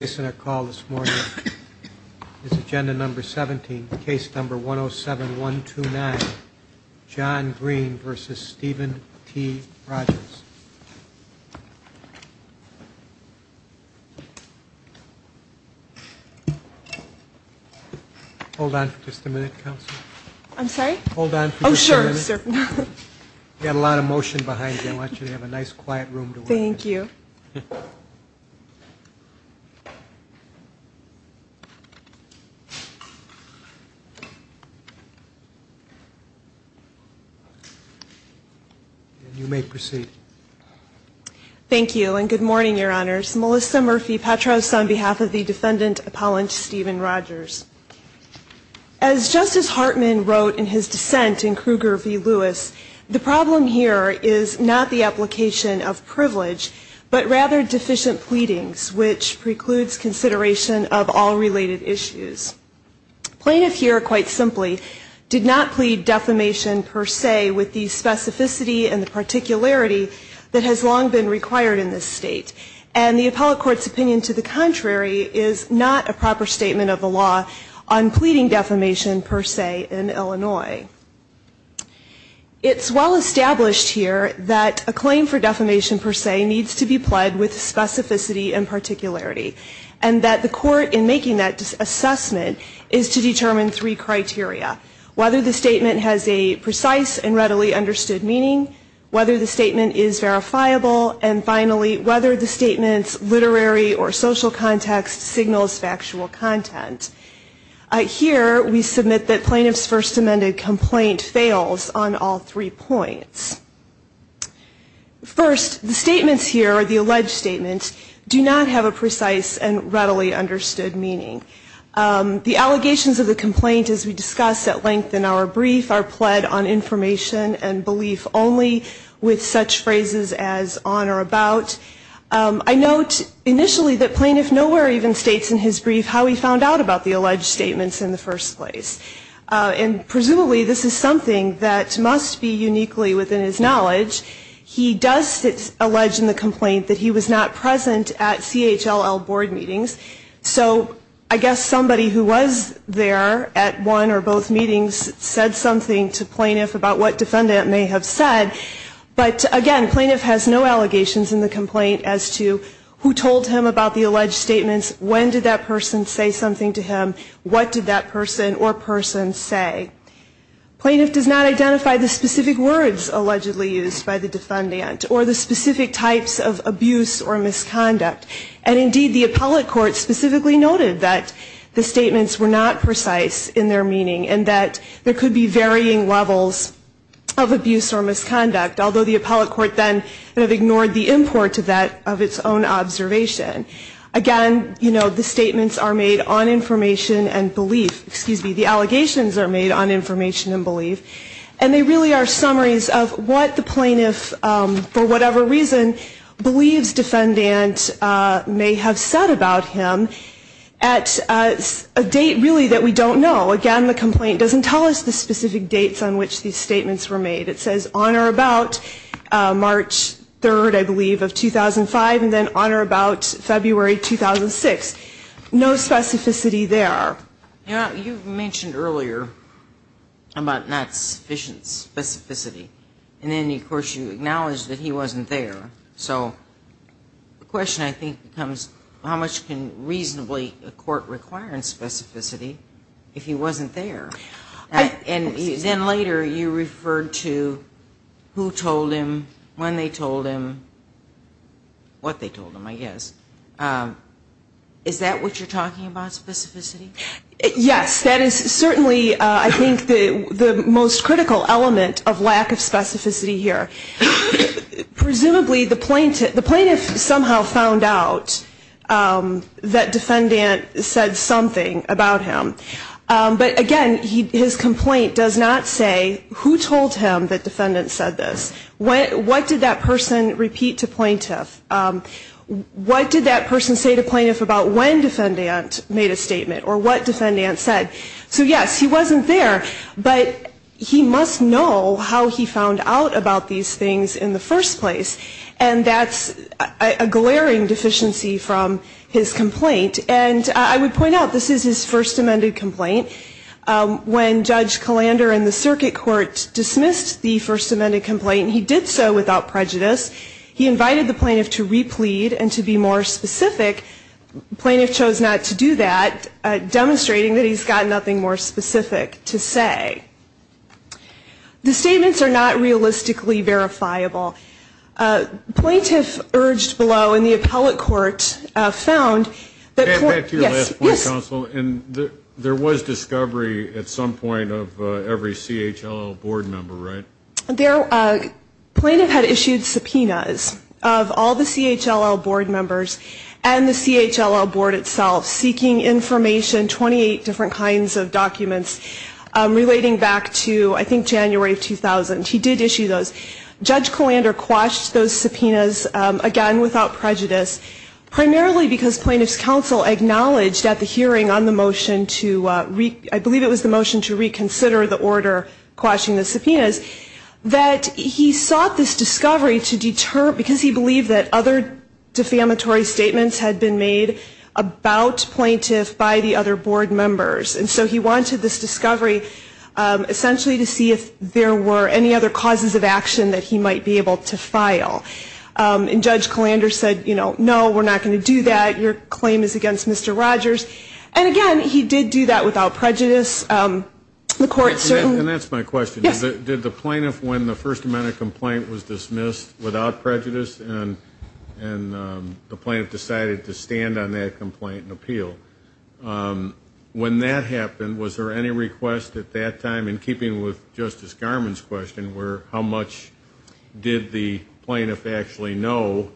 This is agenda number 17, case number 107-129, John Green v. Steven T. Rogers. Hold on for just a minute, counsel. I'm sorry? Hold on for just a minute. Oh, sure, sure. We've got a lot of motion behind you. I want you to have a nice quiet room to work in. Thank you. You may proceed. Thank you, and good morning, Your Honors. Melissa Murphy Petros on behalf of the defendant appellant Steven Rogers. As Justice Hartman wrote in his dissent in Kruger v. Lewis, the problem here is not the application of privilege, but rather deficient pleadings, which precludes consideration of all related issues. Plaintiff here, quite simply, did not plead defamation per se with the specificity and the particularity that has long been required in this state. And the appellate court's opinion to the contrary is not a proper statement of the law on pleading defamation per se in Illinois. It's well established here that a claim for defamation per se needs to be pled with specificity and particularity, and that the court in making that assessment is to determine three criteria. Whether the statement has a precise and readily understood meaning, whether the statement is verifiable, and finally, whether the statement's literary or social context signals factual content. Here, we submit that plaintiff's first amended complaint fails on all three points. First, the statements here, or the alleged statements, do not have a precise and readily understood meaning. The allegations of the complaint, as we discussed at length in our brief, are pled on information and belief only with such phrases as on or about. I note initially that plaintiff nowhere even states in his brief how he found out about the alleged statements in the first place. And presumably, this is something that must be uniquely within his knowledge. He does allege in the complaint that he was not present at CHLL board meetings. So I guess somebody who was there at one or both meetings said something to plaintiff about what defendant may have said. But again, plaintiff has no allegations in the complaint as to who told him about the alleged statements, when did that person say something to him, what did that person or person say. Plaintiff does not identify the specific words allegedly used by the defendant or the specific types of abuse or misconduct. And indeed, the appellate court specifically noted that the statements were not precise in their meaning and that there could be varying levels of abuse or misconduct, although the appellate court then ignored the import of that of its own observation. Again, you know, the statements are made on information and belief, excuse me, the allegations are made on information and belief. And they really are summaries of what the plaintiff, for whatever reason, believes defendant may have said about him at a date really that we don't know. Again, the complaint doesn't tell us the specific dates on which these statements were made. It says on or about March 3rd, I believe, of 2005 and then on or about February 2006. No specificity there. You know, you mentioned earlier about not sufficient specificity. And then, of course, you acknowledged that he wasn't there. So the question, I think, becomes how much can reasonably a court require in specificity if he wasn't there? And then later you referred to who told him, when they told him, what they told him, I guess. Is that what you're talking about, specificity? Yes. That is certainly, I think, the most critical element of lack of specificity here. Presumably, the plaintiff somehow found out that defendant said something about him. But again, his complaint does not say who told him that defendant said this. What did that person repeat to plaintiff? What did that person say to plaintiff about when defendant made a statement or what defendant said? So yes, he wasn't there. But he must know how he found out about these things in the first place. And that's a glaring deficiency from his complaint. And I would point out, this is his first amended complaint. When Judge Kalander and the circuit court dismissed the first amended complaint, he did so without prejudice. He invited the plaintiff to replead and to be more specific. Plaintiff chose not to do that, demonstrating that he's got nothing more specific to say. The statements are not realistically verifiable. Plaintiff urged below, and the appellate court found that. Back to your last point, counsel. And there was discovery at some point of every CHLL board member, right? Plaintiff had issued subpoenas of all the CHLL board members and the CHLL board itself, seeking information, 28 different kinds of documents relating back to, I think, January of 2000. He did issue those. Judge Kalander quashed those subpoenas, again, without prejudice, primarily because plaintiff's counsel acknowledged at the hearing on the motion to, I believe it was the motion to reconsider the order quashing the subpoenas, that he sought this discovery to deter, because he believed that other defamatory statements had been made about plaintiff by the other board members. And so he wanted this discovery, essentially, to see if there were any other causes of action that he might be able to file. And Judge Kalander said, you know, no, we're not going to do that. Your claim is against Mr. Rogers. And again, he did do that without prejudice. The court certainly... And that's my question. Yes. Did the plaintiff, when the First Amendment complaint was dismissed, without prejudice, and the plaintiff decided to stand on that complaint and appeal, when that happened, was there any request at that time, in keeping with Justice Garmon's question, where how much did the plaintiff actually know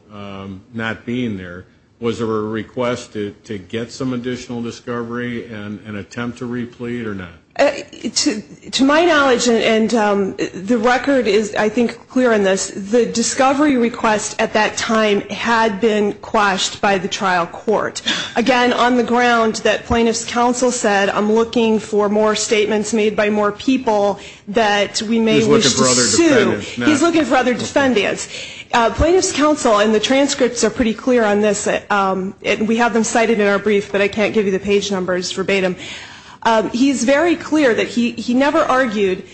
not being there? Was there a request to get some additional discovery and attempt to replete or not? To my knowledge, and the record is, I think, clear on this, the discovery request at that time had been quashed by the trial court. Again, on the ground that Plaintiff's Counsel said, I'm looking for more statements made by more people that we may wish to sue. He's looking for other defendants. He's looking for other defendants. Plaintiff's Counsel, and the transcripts are pretty clear on this. We have them cited in our brief, but I can't give you the page numbers verbatim. He's very clear that he never argued,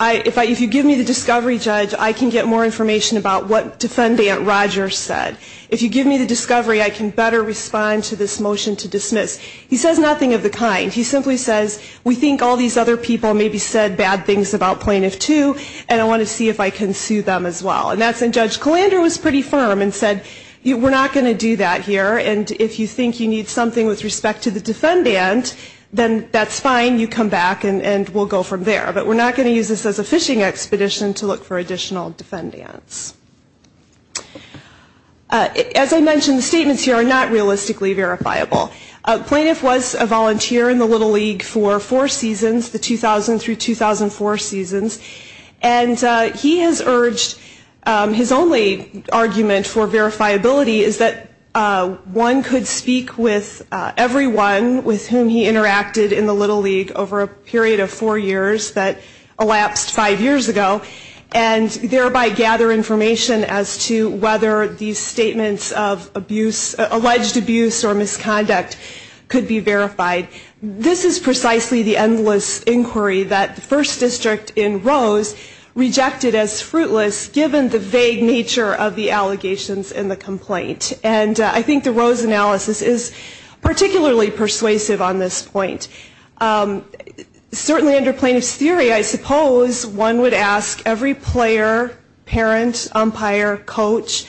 if you give me the discovery, Judge, I can get more information about what Defendant Rogers said. If you give me the discovery, I can better respond to this motion to dismiss. He says nothing of the kind. He simply says, we think all these other people maybe said bad things about Plaintiff 2, and I want to see if I can sue them as well. And that's when Judge Kalander was pretty firm and said, we're not going to do that here. And if you think you need something with respect to the defendant, then that's fine. You come back and we'll go from there. But we're not going to use this as a fishing expedition to look for additional defendants. As I mentioned, the statements here are not realistically verifiable. Plaintiff was a volunteer in the Little League for four seasons, the 2000 through 2004 seasons. And he has urged, his only argument for verifiability is that one could speak with everyone with whom he interacted in the Little League over a period of four years that elapsed five years ago, and thereby gather information as to whether these statements of abuse, alleged abuse or misconduct could be verified. This is precisely the endless inquiry that the first district in Rose rejected as fruitless, given the vague nature of the allegations in the complaint. And I think the Rose analysis is particularly persuasive on this point. Certainly under plaintiff's theory, I suppose one would ask every player, parent, umpire, coach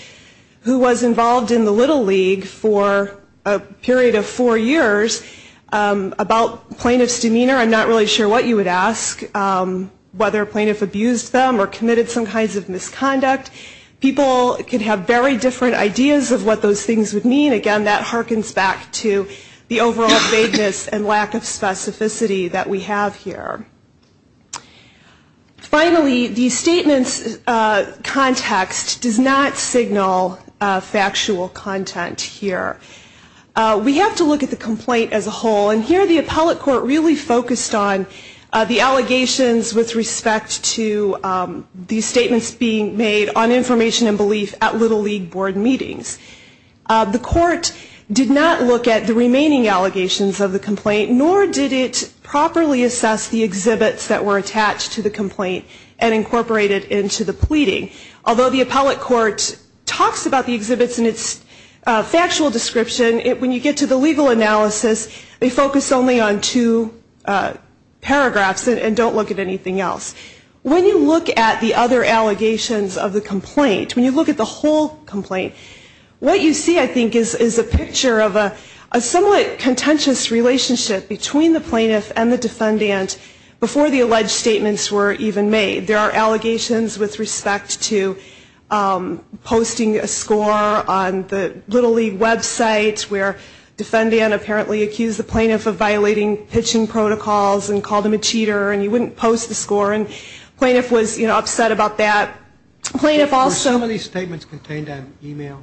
who was involved in the Little League for a period of four years about plaintiff's demeanor. I'm not really sure what you would ask, whether a plaintiff abused them or committed some kinds of misconduct. People could have very different ideas of what those things would mean. Again, that harkens back to the overall vagueness and lack of specificity that we have here. Finally, the statement's context does not signal factual content here. We have to look at the complaint as a whole. And here the appellate court really focused on the allegations with respect to these statements being made on information and belief at Little League board meetings. The court did not look at the remaining allegations of the complaint, nor did it properly assess the exhibits that were attached to the complaint and incorporate it into the pleading. Although the appellate court talks about the exhibits in its factual description, when you get to the legal analysis, they focus only on two paragraphs and don't look at anything else. When you look at the other allegations of the complaint, when you look at the whole complaint, what you see, I think, is a picture of a somewhat contentious relationship between the plaintiff and the defendant before the alleged statements were even made. There are allegations with respect to posting a score on the Little League website where the defendant apparently accused the plaintiff of violating pitching protocols and called him a cheater and he wouldn't post the score. And the plaintiff was upset about that. Were some of these statements contained on email?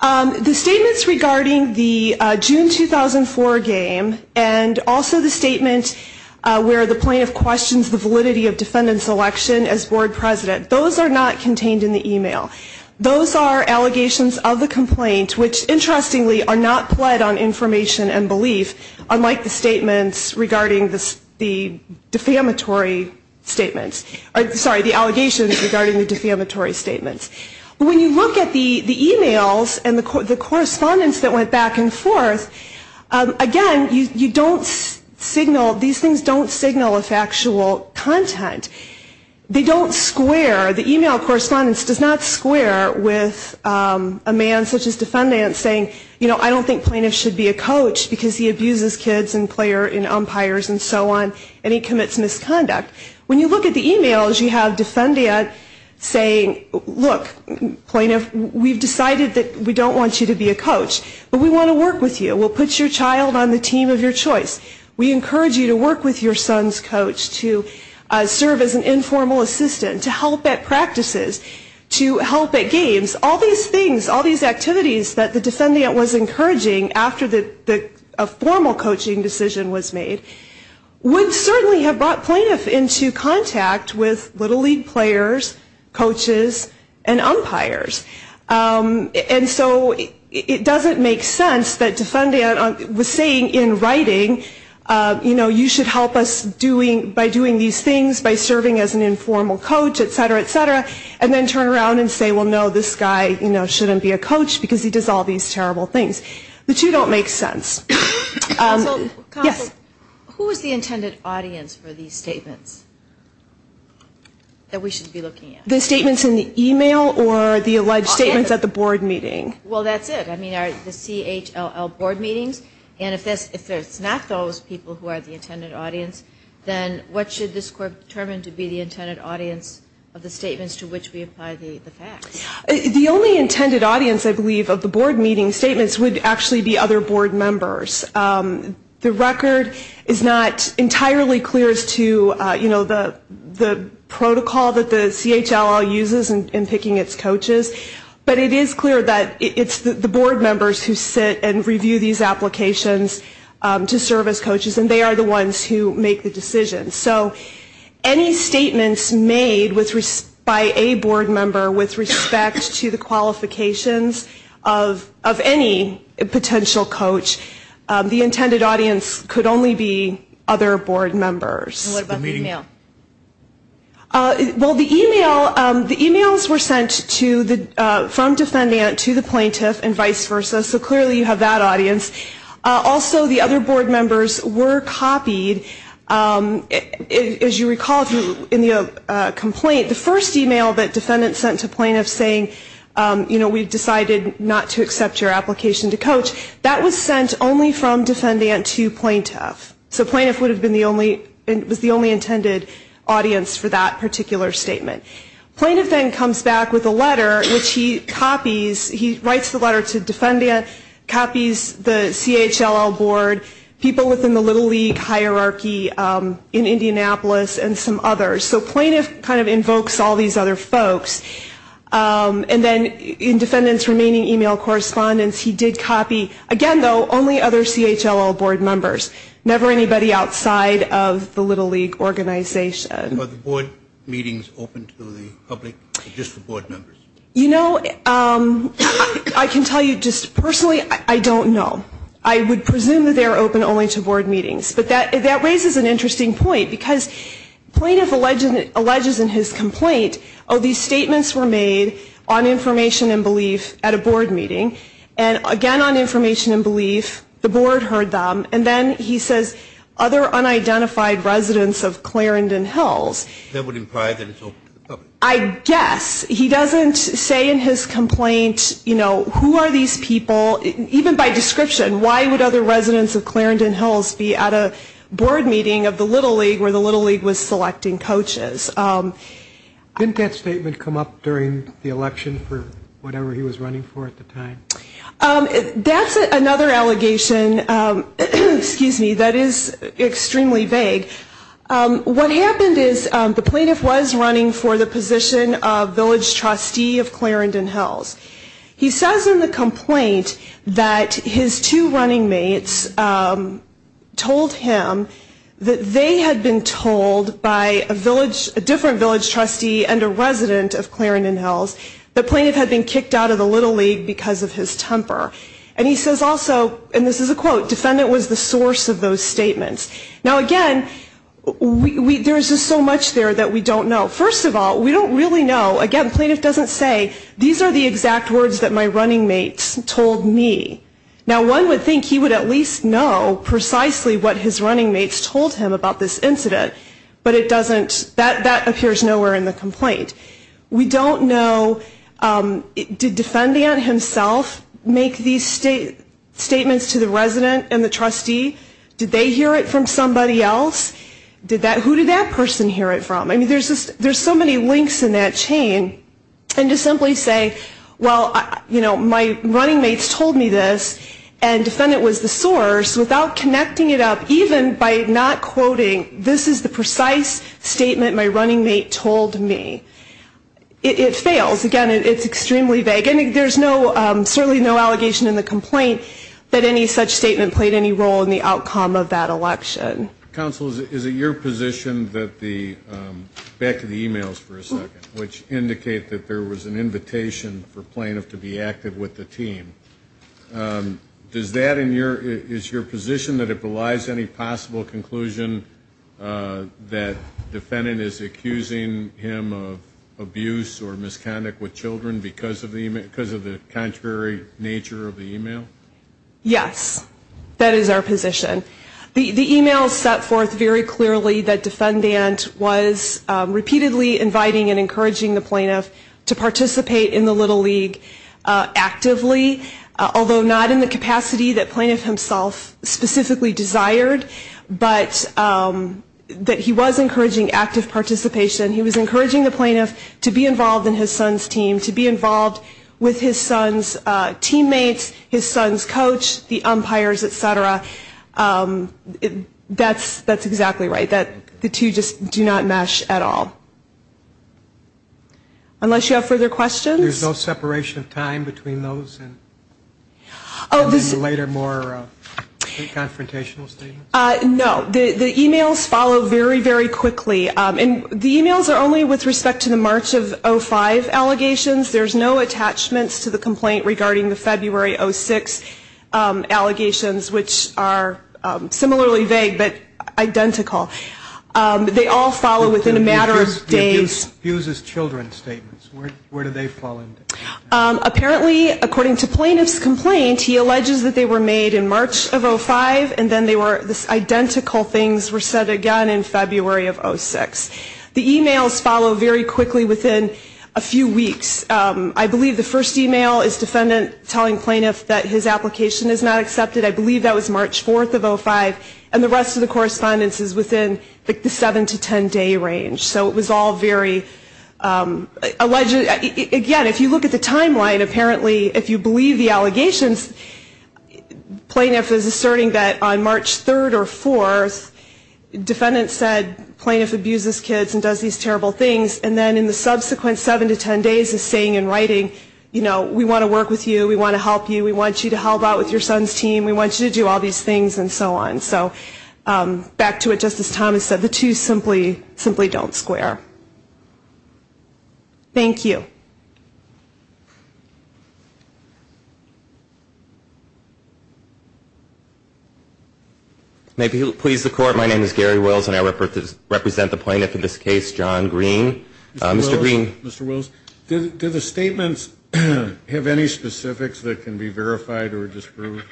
The statements regarding the June 2004 game and also the statement where the plaintiff questions the validity of defendant's election as board president, those are not contained in the email. Those are allegations of the complaint, which, interestingly, are not pled on information and belief, unlike the statements regarding the defamatory statements. Sorry, the allegations regarding the defamatory statements. When you look at the emails and the correspondence that went back and forth, again, you don't signal, these things don't signal a factual content. They don't square, the email correspondence does not square with a man such as defendant saying, you know, I don't think plaintiff should be a coach because he abuses kids and players and umpires and so on and he commits misconduct. When you look at the emails, you have defendant saying, look, plaintiff, we've decided that we don't want you to be a coach, but we want to work with you. We'll put your child on the team of your choice. We encourage you to work with your son's coach, to serve as an informal assistant, to help at practices, to help at games. All these things, all these activities that the defendant was encouraging after a formal coaching decision was made, would certainly have brought plaintiff into contact with Little League players, coaches, and umpires. And so it doesn't make sense that defendant was saying in writing, you know, you should help us by doing these things, by serving as an informal coach, et cetera, et cetera, and then turn around and say, well, no, this guy, you know, those two don't make sense. Yes? Who is the intended audience for these statements that we should be looking at? The statements in the email or the alleged statements at the board meeting? Well, that's it. I mean, the CHLL board meetings, and if it's not those people who are the intended audience, then what should this court determine to be the intended audience of the statements to which we apply the facts? The only intended audience, I believe, of the board meeting statements would actually be other board members. The record is not entirely clear as to, you know, the protocol that the CHLL uses in picking its coaches, but it is clear that it's the board members who sit and review these applications to serve as coaches, and they are the ones who make the decisions. So any statements made by a board member with respect to the qualifications of any potential coach, the intended audience could only be other board members. And what about the email? Well, the emails were sent from defendant to the plaintiff and vice versa, so clearly you have that audience. Also, the other board members were copied. As you recall in the complaint, the first email that defendant sent to plaintiff saying, you know, we've decided not to accept your application to coach, that was sent only from defendant to plaintiff. So plaintiff was the only intended audience for that particular statement. Plaintiff then comes back with a letter, which he copies. He writes the letter to defendant, copies the CHLL board, people within the Little League hierarchy in Indianapolis, and some others. So plaintiff kind of invokes all these other folks. And then in defendant's remaining email correspondence, he did copy, again, though, only other CHLL board members, never anybody outside of the Little League organization. Were the board meetings open to the public just for board members? You know, I can tell you just personally, I don't know. I would presume that they're open only to board meetings. But that raises an interesting point, because plaintiff alleges in his complaint, oh, these statements were made on information and belief at a board meeting, and again on information and belief, the board heard them, and then he says other unidentified residents of Clarendon Hills. That would imply that it's open to the public. I guess he doesn't say in his complaint, you know, who are these people? Even by description, why would other residents of Clarendon Hills be at a board meeting of the Little League where the Little League was selecting coaches? Didn't that statement come up during the election for whatever he was running for at the time? That's another allegation, excuse me, that is extremely vague. What happened is the plaintiff was running for the position of village trustee of Clarendon Hills. He says in the complaint that his two running mates told him that they had been told by a different village trustee and a resident of Clarendon Hills that plaintiff had been kicked out of the Little League because of his temper. And he says also, and this is a quote, defendant was the source of those statements. Now, again, there is just so much there that we don't know. First of all, we don't really know. Again, the plaintiff doesn't say, these are the exact words that my running mates told me. Now, one would think he would at least know precisely what his running mates told him about this incident, but it doesn't, that appears nowhere in the complaint. We don't know, did defendant himself make these statements to the resident and the trustee? Did they hear it from somebody else? Who did that person hear it from? I mean, there's so many links in that chain. And to simply say, well, you know, my running mates told me this, and defendant was the source without connecting it up even by not quoting, this is the precise statement my running mate told me. It fails. Again, it's extremely vague. There's certainly no allegation in the complaint that any such statement played any role in the outcome of that election. Counsel, is it your position that the, back to the e-mails for a second, which indicate that there was an invitation for plaintiff to be active with the team, is your position that it belies any possible conclusion that defendant is accusing him of abuse or misconduct with children because of the contrary nature of the e-mail? Yes, that is our position. The e-mail set forth very clearly that defendant was repeatedly inviting and encouraging the plaintiff to participate in the little league actively, although not in the capacity that plaintiff himself specifically desired, but that he was encouraging active participation. He was encouraging the plaintiff to be involved in his son's team, to be involved with his son's teammates, his son's coach, the umpires, et cetera. That's exactly right. The two just do not mesh at all. Unless you have further questions? There's no separation of time between those and then the later more confrontational statements? No. The e-mails follow very, very quickly. And the e-mails are only with respect to the March of 05 allegations. There's no attachments to the complaint regarding the February 06 allegations, which are similarly vague but identical. They all follow within a matter of days. The abuse is children's statements. Where do they fall into that? Apparently, according to plaintiff's complaint, he alleges that they were made in March of 05 and then they were identical things were said again in February of 06. The e-mails follow very quickly within a few weeks. I believe the first e-mail is defendant telling plaintiff that his application is not accepted. I believe that was March 4th of 05. And the rest of the correspondence is within the 7 to 10-day range. So it was all very alleged. Again, if you look at the timeline, apparently, if you believe the allegations, plaintiff is asserting that on March 3rd or 4th, defendant said plaintiff abuses kids and does these terrible things, and then in the subsequent 7 to 10 days is saying in writing, you know, we want to work with you, we want to help you, we want you to help out with your son's team, we want you to do all these things, and so on. So back to what Justice Thomas said, the two simply don't square. Thank you. May it please the Court, my name is Gary Wills, and I represent the plaintiff in this case, John Green. Mr. Wills, do the statements have any specifics that can be verified or disproved?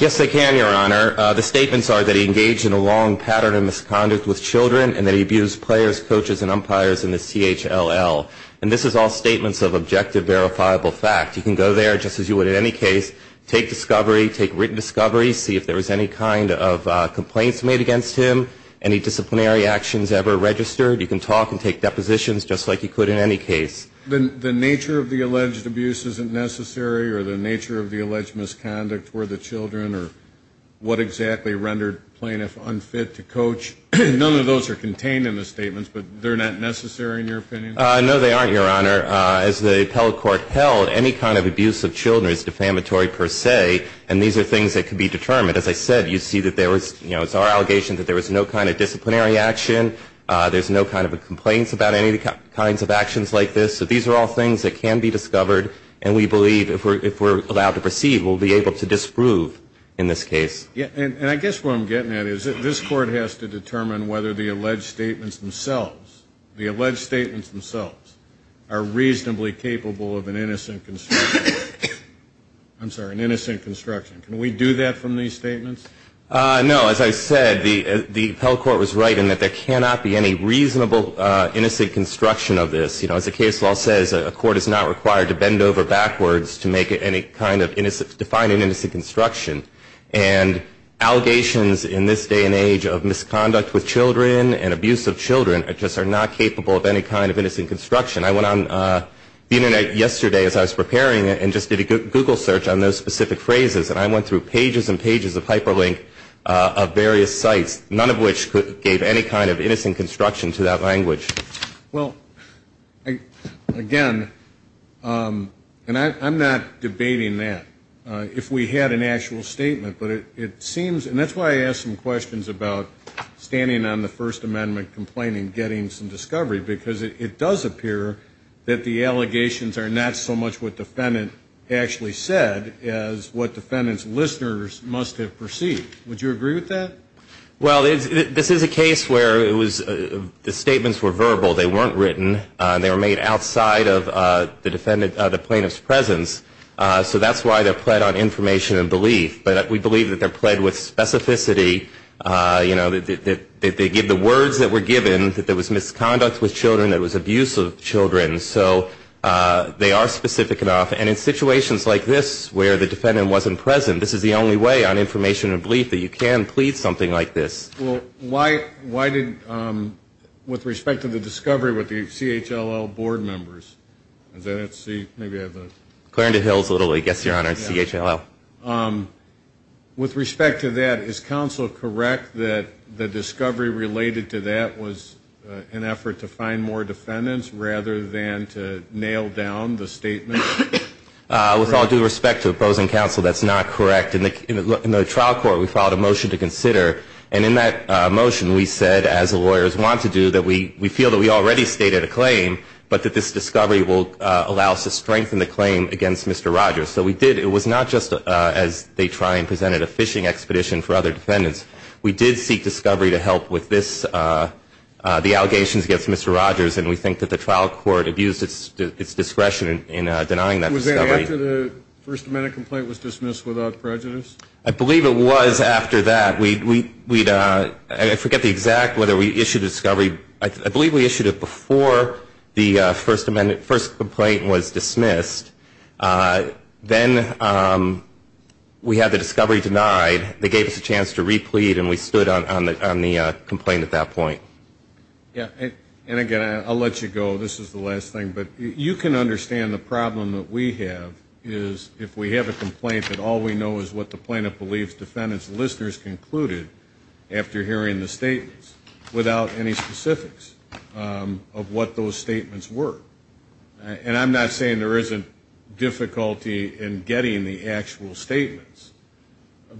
Yes, they can, Your Honor. The statements are that he engaged in a long pattern of misconduct with children and that he abused players, coaches, and umpires in the CHLL. And this is all statements of objective verifiable fact. You can go there just as you would in any case, take discovery, take written discovery, see if there was any kind of complaints made against him, any disciplinary actions ever registered. You can talk and take depositions just like you could in any case. The nature of the alleged abuse isn't necessary or the nature of the alleged misconduct were the children or what exactly rendered plaintiff unfit to coach? None of those are contained in the statements, but they're not necessary in your opinion? No, they aren't, Your Honor. As the appellate court held, any kind of abuse of children is defamatory per se, and these are things that can be determined. As I said, you see that there was, you know, it's our allegation that there was no kind of disciplinary action. There's no kind of complaints about any kinds of actions like this. So these are all things that can be discovered, and we believe if we're allowed to proceed we'll be able to disprove in this case. And I guess what I'm getting at is that this Court has to determine whether the alleged statements themselves, the alleged statements themselves are reasonably capable of an innocent construction. I'm sorry, an innocent construction. Can we do that from these statements? No. As I said, the appellate court was right in that there cannot be any reasonable innocent construction of this. You know, as the case law says, a court is not required to bend over backwards to make any kind of innocent, to define an innocent construction, and allegations in this day and age of misconduct with children and abuse of children just are not capable of any kind of innocent construction. I went on the Internet yesterday as I was preparing it and just did a Google search on those specific phrases, and I went through pages and pages of hyperlink of various sites, none of which gave any kind of innocent construction to that language. Well, again, and I'm not debating that. If we had an actual statement, but it seems, and that's why I asked some questions about standing on the First Amendment complaining getting some discovery, because it does appear that the allegations are not so much what defendant actually said as what defendant's listeners must have perceived. Would you agree with that? Well, this is a case where the statements were verbal. They weren't written. They were made outside of the defendant, the plaintiff's presence. So that's why they're pled on information and belief. But we believe that they're pled with specificity. You know, they give the words that were given, that there was misconduct with children, that it was abuse of children. So they are specific enough. And in situations like this where the defendant wasn't present, this is the only way on information and belief that you can plead something like this. Well, why did, with respect to the discovery with the CHLL board members, is that it? See, maybe I have the. Clarendon Hills, Little League. Yes, Your Honor, CHLL. With respect to that, is counsel correct that the discovery related to that was an effort to find more defendants rather than to nail down the statement? With all due respect to opposing counsel, that's not correct. In the trial court, we filed a motion to consider. And in that motion, we said, as lawyers want to do, that we feel that we already stated a claim, but that this discovery will allow us to strengthen the claim against Mr. Rogers. So we did. It was not just as they try and present it, a fishing expedition for other defendants. We did seek discovery to help with this, the allegations against Mr. Rogers. And we think that the trial court abused its discretion in denying that discovery. Was that after the First Amendment complaint was dismissed without prejudice? I believe it was after that. I forget the exact, whether we issued a discovery. I believe we issued it before the First Amendment complaint was dismissed. Then we had the discovery denied. They gave us a chance to replead, and we stood on the complaint at that point. And, again, I'll let you go. This is the last thing. But you can understand the problem that we have is if we have a complaint that all we know is what the plaintiff believes defendants and listeners concluded after hearing the statements without any specifics of what those statements were. And I'm not saying there isn't difficulty in getting the actual statements.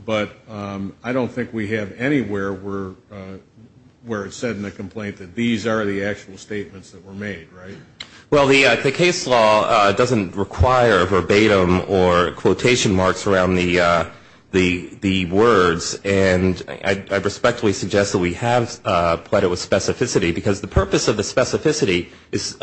But I don't think we have anywhere where it's said in the complaint that these are the actual statements that were made, right? Well, the case law doesn't require verbatim or quotation marks around the words. And I respectfully suggest that we have put it with specificity, because the purpose of the specificity is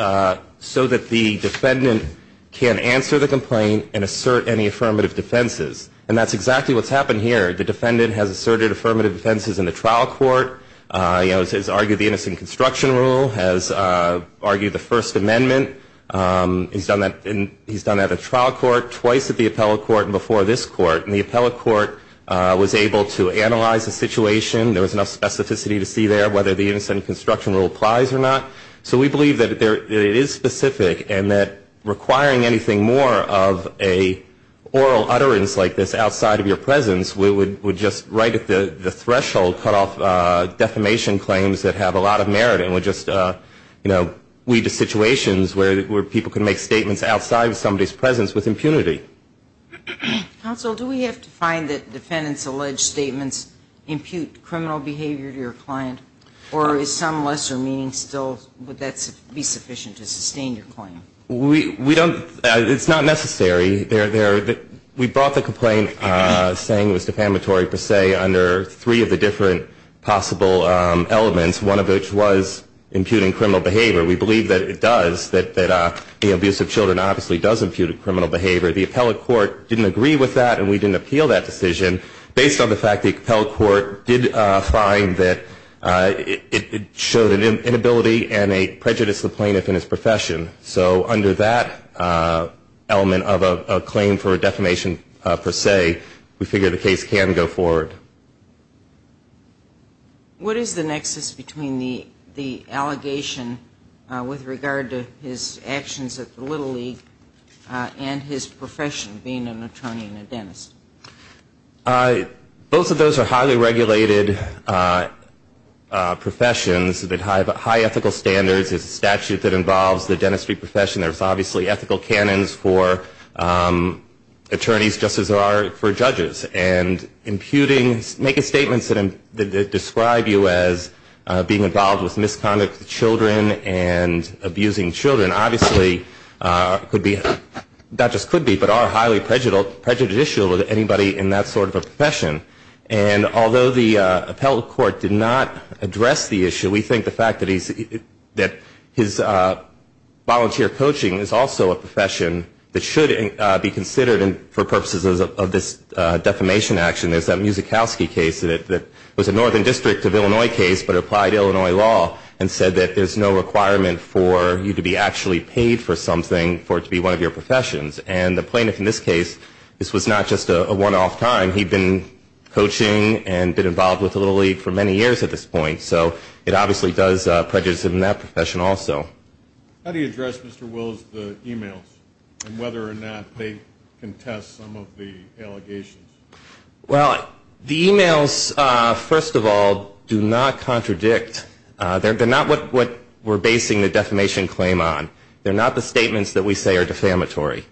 so that the defendant can answer the complaint and assert any affirmative defenses. And that's exactly what's happened here. The defendant has asserted affirmative defenses in the trial court, has argued the innocent construction rule, has argued the First Amendment. He's done that at the trial court, twice at the appellate court, and before this court. And the appellate court was able to analyze the situation. There was enough specificity to see there whether the innocent construction rule applies or not. So we believe that it is specific and that requiring anything more of an oral utterance like this outside of your presence would just right at the threshold cut off defamation claims that have a lot of merit and would just, you know, lead to situations where people can make statements outside of somebody's presence with impunity. Counsel, do we have to find that defendants' alleged statements impute criminal behavior to your client? Or is some lesser meaning still, would that be sufficient to sustain your claim? We don't, it's not necessary. We brought the complaint saying it was defamatory per se under three of the different possible elements, one of which was imputing criminal behavior. We believe that it does, that the abuse of children obviously does impute criminal behavior. The appellate court didn't agree with that, and we didn't appeal that decision. Based on the fact the appellate court did find that it showed an inability and a prejudice to the plaintiff in his profession. So under that element of a claim for defamation per se, we figure the case can go forward. What is the nexus between the allegation with regard to his actions at the Little League and his profession, being an attorney and a dentist? Both of those are highly regulated professions that have high ethical standards. It's a statute that involves the dentistry profession. There's obviously ethical canons for attorneys, just as there are for judges. And imputing, making statements that describe you as being involved with misconduct with children and abusing children, obviously could be, not just could be, but are highly prejudicial to anybody in that sort of a profession. And although the appellate court did not address the issue, we think the fact that he's, that his volunteer coaching is also a profession that should be considered for purposes of this defamation action. There's that Musickowski case that was a Northern District of Illinois case, but applied Illinois law and said that there's no requirement for you to be actually paid for something, for it to be one of your professions. And the plaintiff in this case, this was not just a one-off time. He'd been coaching and been involved with the Little League for many years at this point. So it obviously does prejudice him in that profession also. How do you address, Mr. Wills, the e-mails and whether or not they contest some of the allegations? Well, the e-mails, first of all, do not contradict. They're not what we're basing the defamation claim on. They're not the statements that we say are defamatory.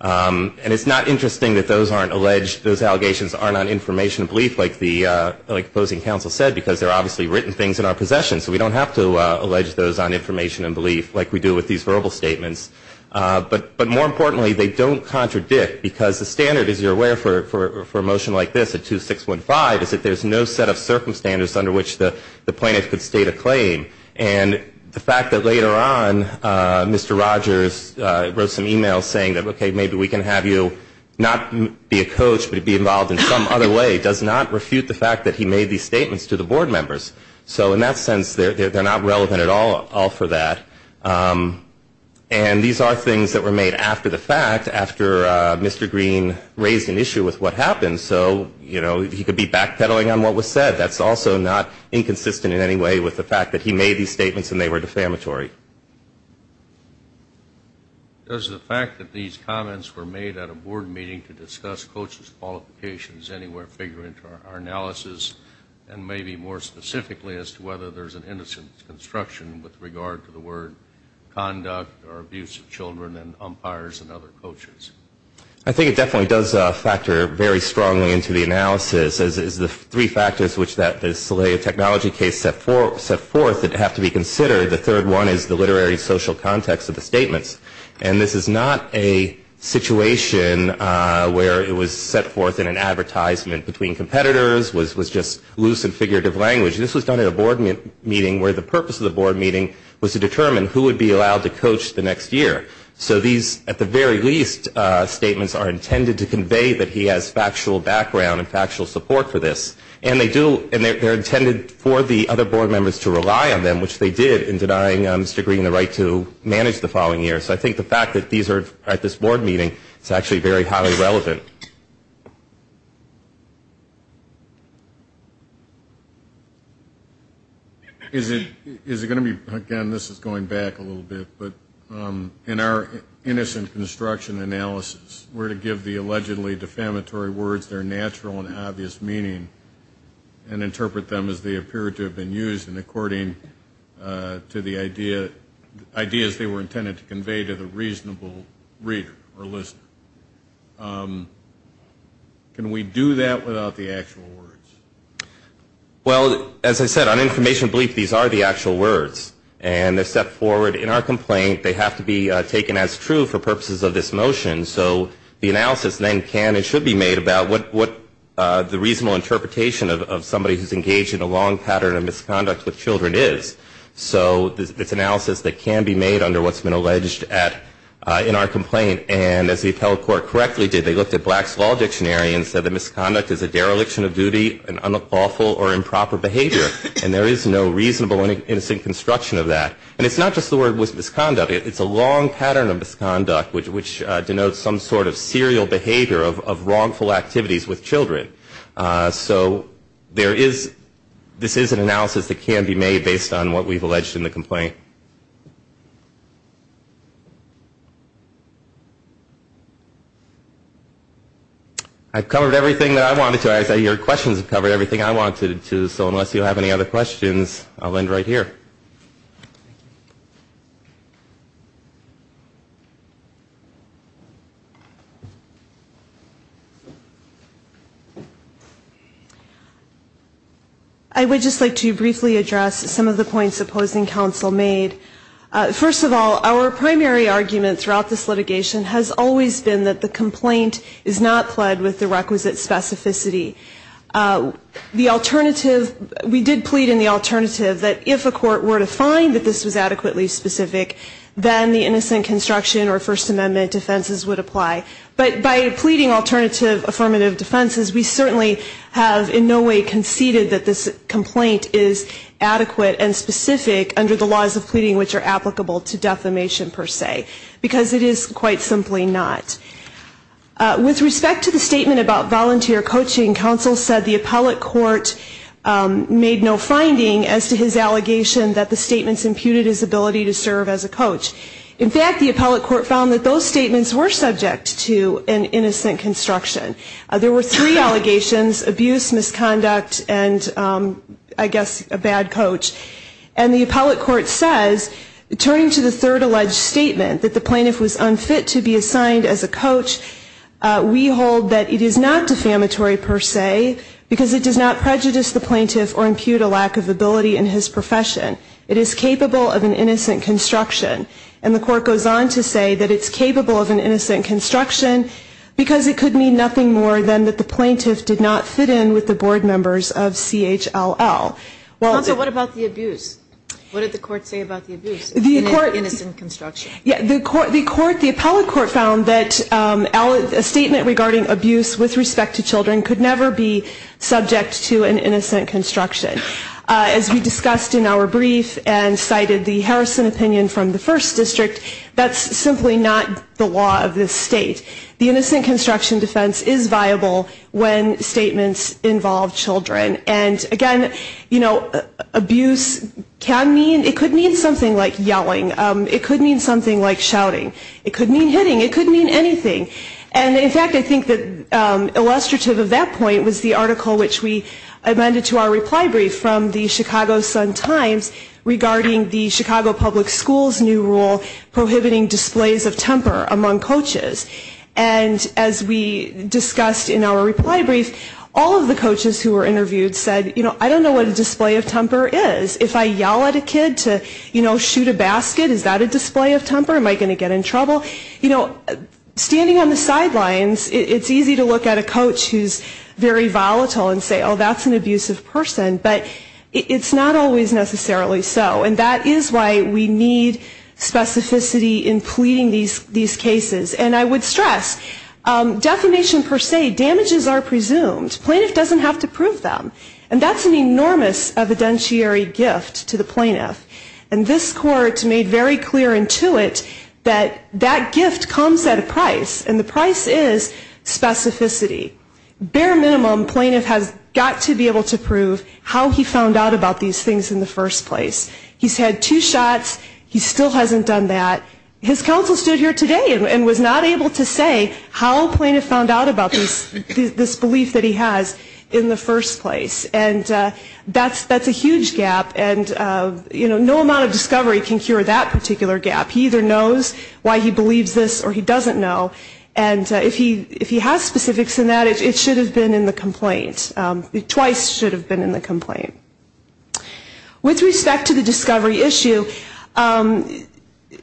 And it's not interesting that those aren't alleged, those allegations aren't on information of belief, like the opposing counsel said, because they're obviously written things in our possession, so we don't have to allege those on information and belief like we do with these verbal statements. But more importantly, they don't contradict, because the standard, as you're aware, for a motion like this, a 2615, is that there's no set of circumstances under which the plaintiff could state a claim. And the fact that later on Mr. Rogers wrote some e-mails saying that, okay, maybe we can have you not be a coach but be involved in some other way, does not refute the fact that he made these statements to the board members. So in that sense, they're not relevant at all for that. And these are things that were made after the fact, after Mr. Green raised an issue with what happened. So, you know, he could be backpedaling on what was said. That's also not inconsistent in any way with the fact that he made these statements and they were defamatory. Does the fact that these comments were made at a board meeting to discuss coaches' qualifications anywhere figure into our analysis, and maybe more specifically, as to whether there's an innocence construction with regard to the word conduct or abuse of children and umpires and other coaches? I think it definitely does factor very strongly into the analysis, as is the three factors which the Solea technology case set forth that have to be considered. The third one is the literary social context of the statements. And this is not a situation where it was set forth in an advertisement between competitors, was just loose and figurative language. This was done at a board meeting where the purpose of the board meeting was to determine who would be allowed to coach the next year. So these, at the very least, statements are intended to convey that he has factual background and factual support for this. And they're intended for the other board members to rely on them, which they did in denying Mr. Green the right to manage the following year. So I think the fact that these are at this board meeting is actually very highly relevant. Is it going to be, again, this is going back a little bit, but in our innocent construction analysis, we're to give the allegedly defamatory words their natural and obvious meaning and interpret them as they appear to have been used in according to the idea, ideas they were intended to convey to the reasonable reader or listener. Can we do that without the actual words? Well, as I said, on information bleep, these are the actual words. And they're set forward in our complaint. They have to be taken as true for purposes of this motion. So the analysis then can and should be made about what the reasonable interpretation of somebody who's engaged in a long pattern of misconduct with children is. So it's analysis that can be made under what's been alleged in our complaint. And as the appellate court correctly did, they looked at Black's Law Dictionary and said that misconduct is a dereliction of duty, an unlawful or improper behavior. And there is no reasonable and innocent construction of that. And it's not just the word misconduct. It's a long pattern of misconduct which denotes some sort of serial behavior of wrongful activities with children. So this is an analysis that can be made based on what we've alleged in the complaint. I've covered everything that I wanted to. Your questions have covered everything I wanted to. So unless you have any other questions, I'll end right here. I would just like to briefly address some of the points opposing counsel made. First of all, our primary argument throughout this litigation has always been that the complaint is not pled with the requisite specificity. The alternative, we did plead in the alternative that if a court were to find that this was adequately specific, then the innocent construction or First Amendment defenses would apply. But by pleading alternative affirmative defenses, we certainly have in no way conceded that this complaint is adequate and specific under the laws of pleading which are applicable to defamation per se. Because it is quite simply not. With respect to the statement about volunteer coaching, counsel said the appellate court made no finding as to his allegation that the statements imputed his ability to serve as a coach. In fact, the appellate court found that those statements were subject to an innocent construction. There were three allegations, abuse, misconduct, and I guess a bad coach. And the appellate court says, turning to the third alleged statement, that the plaintiff was unfit to be assigned as a coach, we hold that it is not defamatory per se because it does not prejudice the plaintiff or impute a lack of ability in his profession. It is capable of an innocent construction. And the court goes on to say that it's capable of an innocent construction because it could mean nothing more than that the plaintiff did not fit in with the board members of CHLL. What about the abuse? What did the court say about the abuse? Innocent construction. The appellate court found that a statement regarding abuse with respect to children could never be subject to an innocent construction. As we discussed in our brief and cited the Harrison opinion from the first district, that's simply not the law of this state. The innocent construction defense is viable when statements involve children. And again, you know, abuse can mean, it could mean something like yelling. It could mean something like shouting. It could mean hitting. It could mean anything. There was another article which we amended to our reply brief from the Chicago Sun-Times regarding the Chicago Public Schools new rule prohibiting displays of temper among coaches. And as we discussed in our reply brief, all of the coaches who were interviewed said, you know, I don't know what a display of temper is. If I yell at a kid to, you know, shoot a basket, is that a display of temper? Am I going to get in trouble? You know, standing on the sidelines, it's easy to look at a coach who's very volatile and say, oh, that's an abusive person. But it's not always necessarily so. And that is why we need specificity in pleading these cases. And I would stress, defamation per se, damages are presumed. Plaintiff doesn't have to prove them. And that's an enormous evidentiary gift to the plaintiff. And this court made very clear into it that that gift comes at a price, and the price is specificity. Bare minimum, plaintiff has got to be able to prove how he found out about these things in the first place. He's had two shots. He still hasn't done that. His counsel stood here today and was not able to say how plaintiff found out about this belief that he has in the first place. And that's a huge gap. And, you know, no amount of discovery can cure that particular gap. He either knows why he believes this or he doesn't know. And if he has specifics in that, it should have been in the complaint, twice should have been in the complaint. With respect to the discovery issue,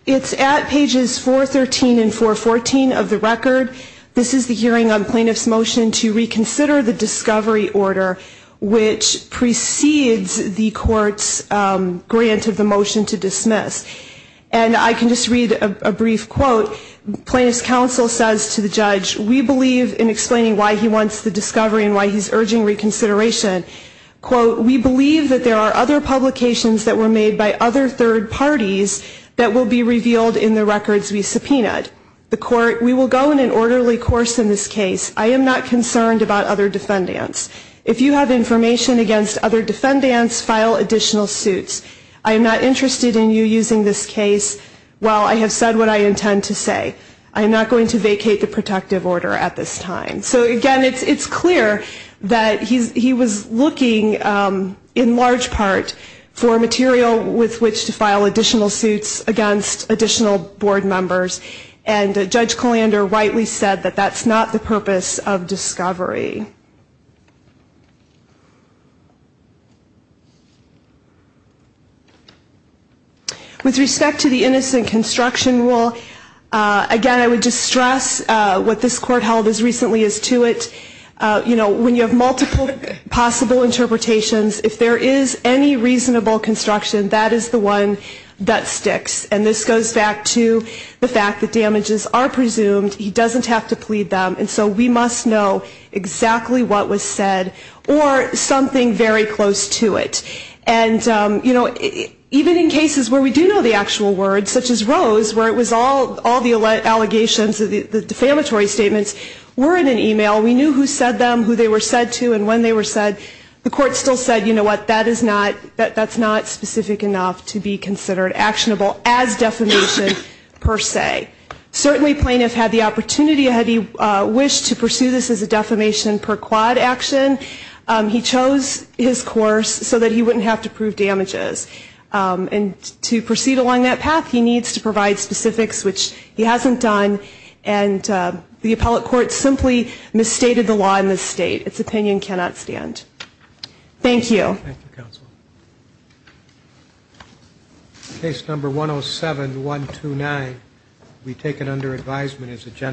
it's at pages 413 and 414 of the record. This is the hearing on plaintiff's motion to reconsider the discovery order, which precedes the court's grant of the motion to dismiss. And I can just read a brief quote. Plaintiff's counsel says to the judge, we believe in explaining why he wants the discovery and why he's urging reconsideration. Quote, we believe that there are other publications that were made by other third parties that will be revealed in the records we subpoenaed. The court, we will go in an orderly course in this case. I am not concerned about other defendants. If you have information against other defendants, file additional suits. I am not interested in you using this case. Well, I have said what I intend to say. I am not going to vacate the protective order at this time. So, again, it's clear that he was looking, in large part, for material with which to file additional suits against additional board members. And Judge Colander rightly said that that's not the purpose of discovery. With respect to the innocent construction rule, again, I would just stress what this court held as recently as to it. You know, when you have multiple possible interpretations, if there is any reasonable construction, that is the one that sticks. And this goes back to the fact that damages are presumed. He doesn't have to plead them. And so we must know exactly what was said or something very close to it. And, you know, even in cases where we do know the actual words, such as Rose, where it was all the allegations, the defamatory statements, were in an e-mail, we knew who said them, who they were said to, and when they were said, the court still said, you know what, that's not specific enough to be considered actionable as defamation per se. Certainly plaintiff had the opportunity, had he wished to pursue this as a defamation per quad action, he chose his course so that he wouldn't have to prove damages. And to proceed along that path, he needs to provide specifics, which he hasn't done. And the appellate court simply misstated the law in this state. Its opinion cannot stand. Thank you. Thank you, counsel. Case number 107-129 will be taken under advisement as a general matter.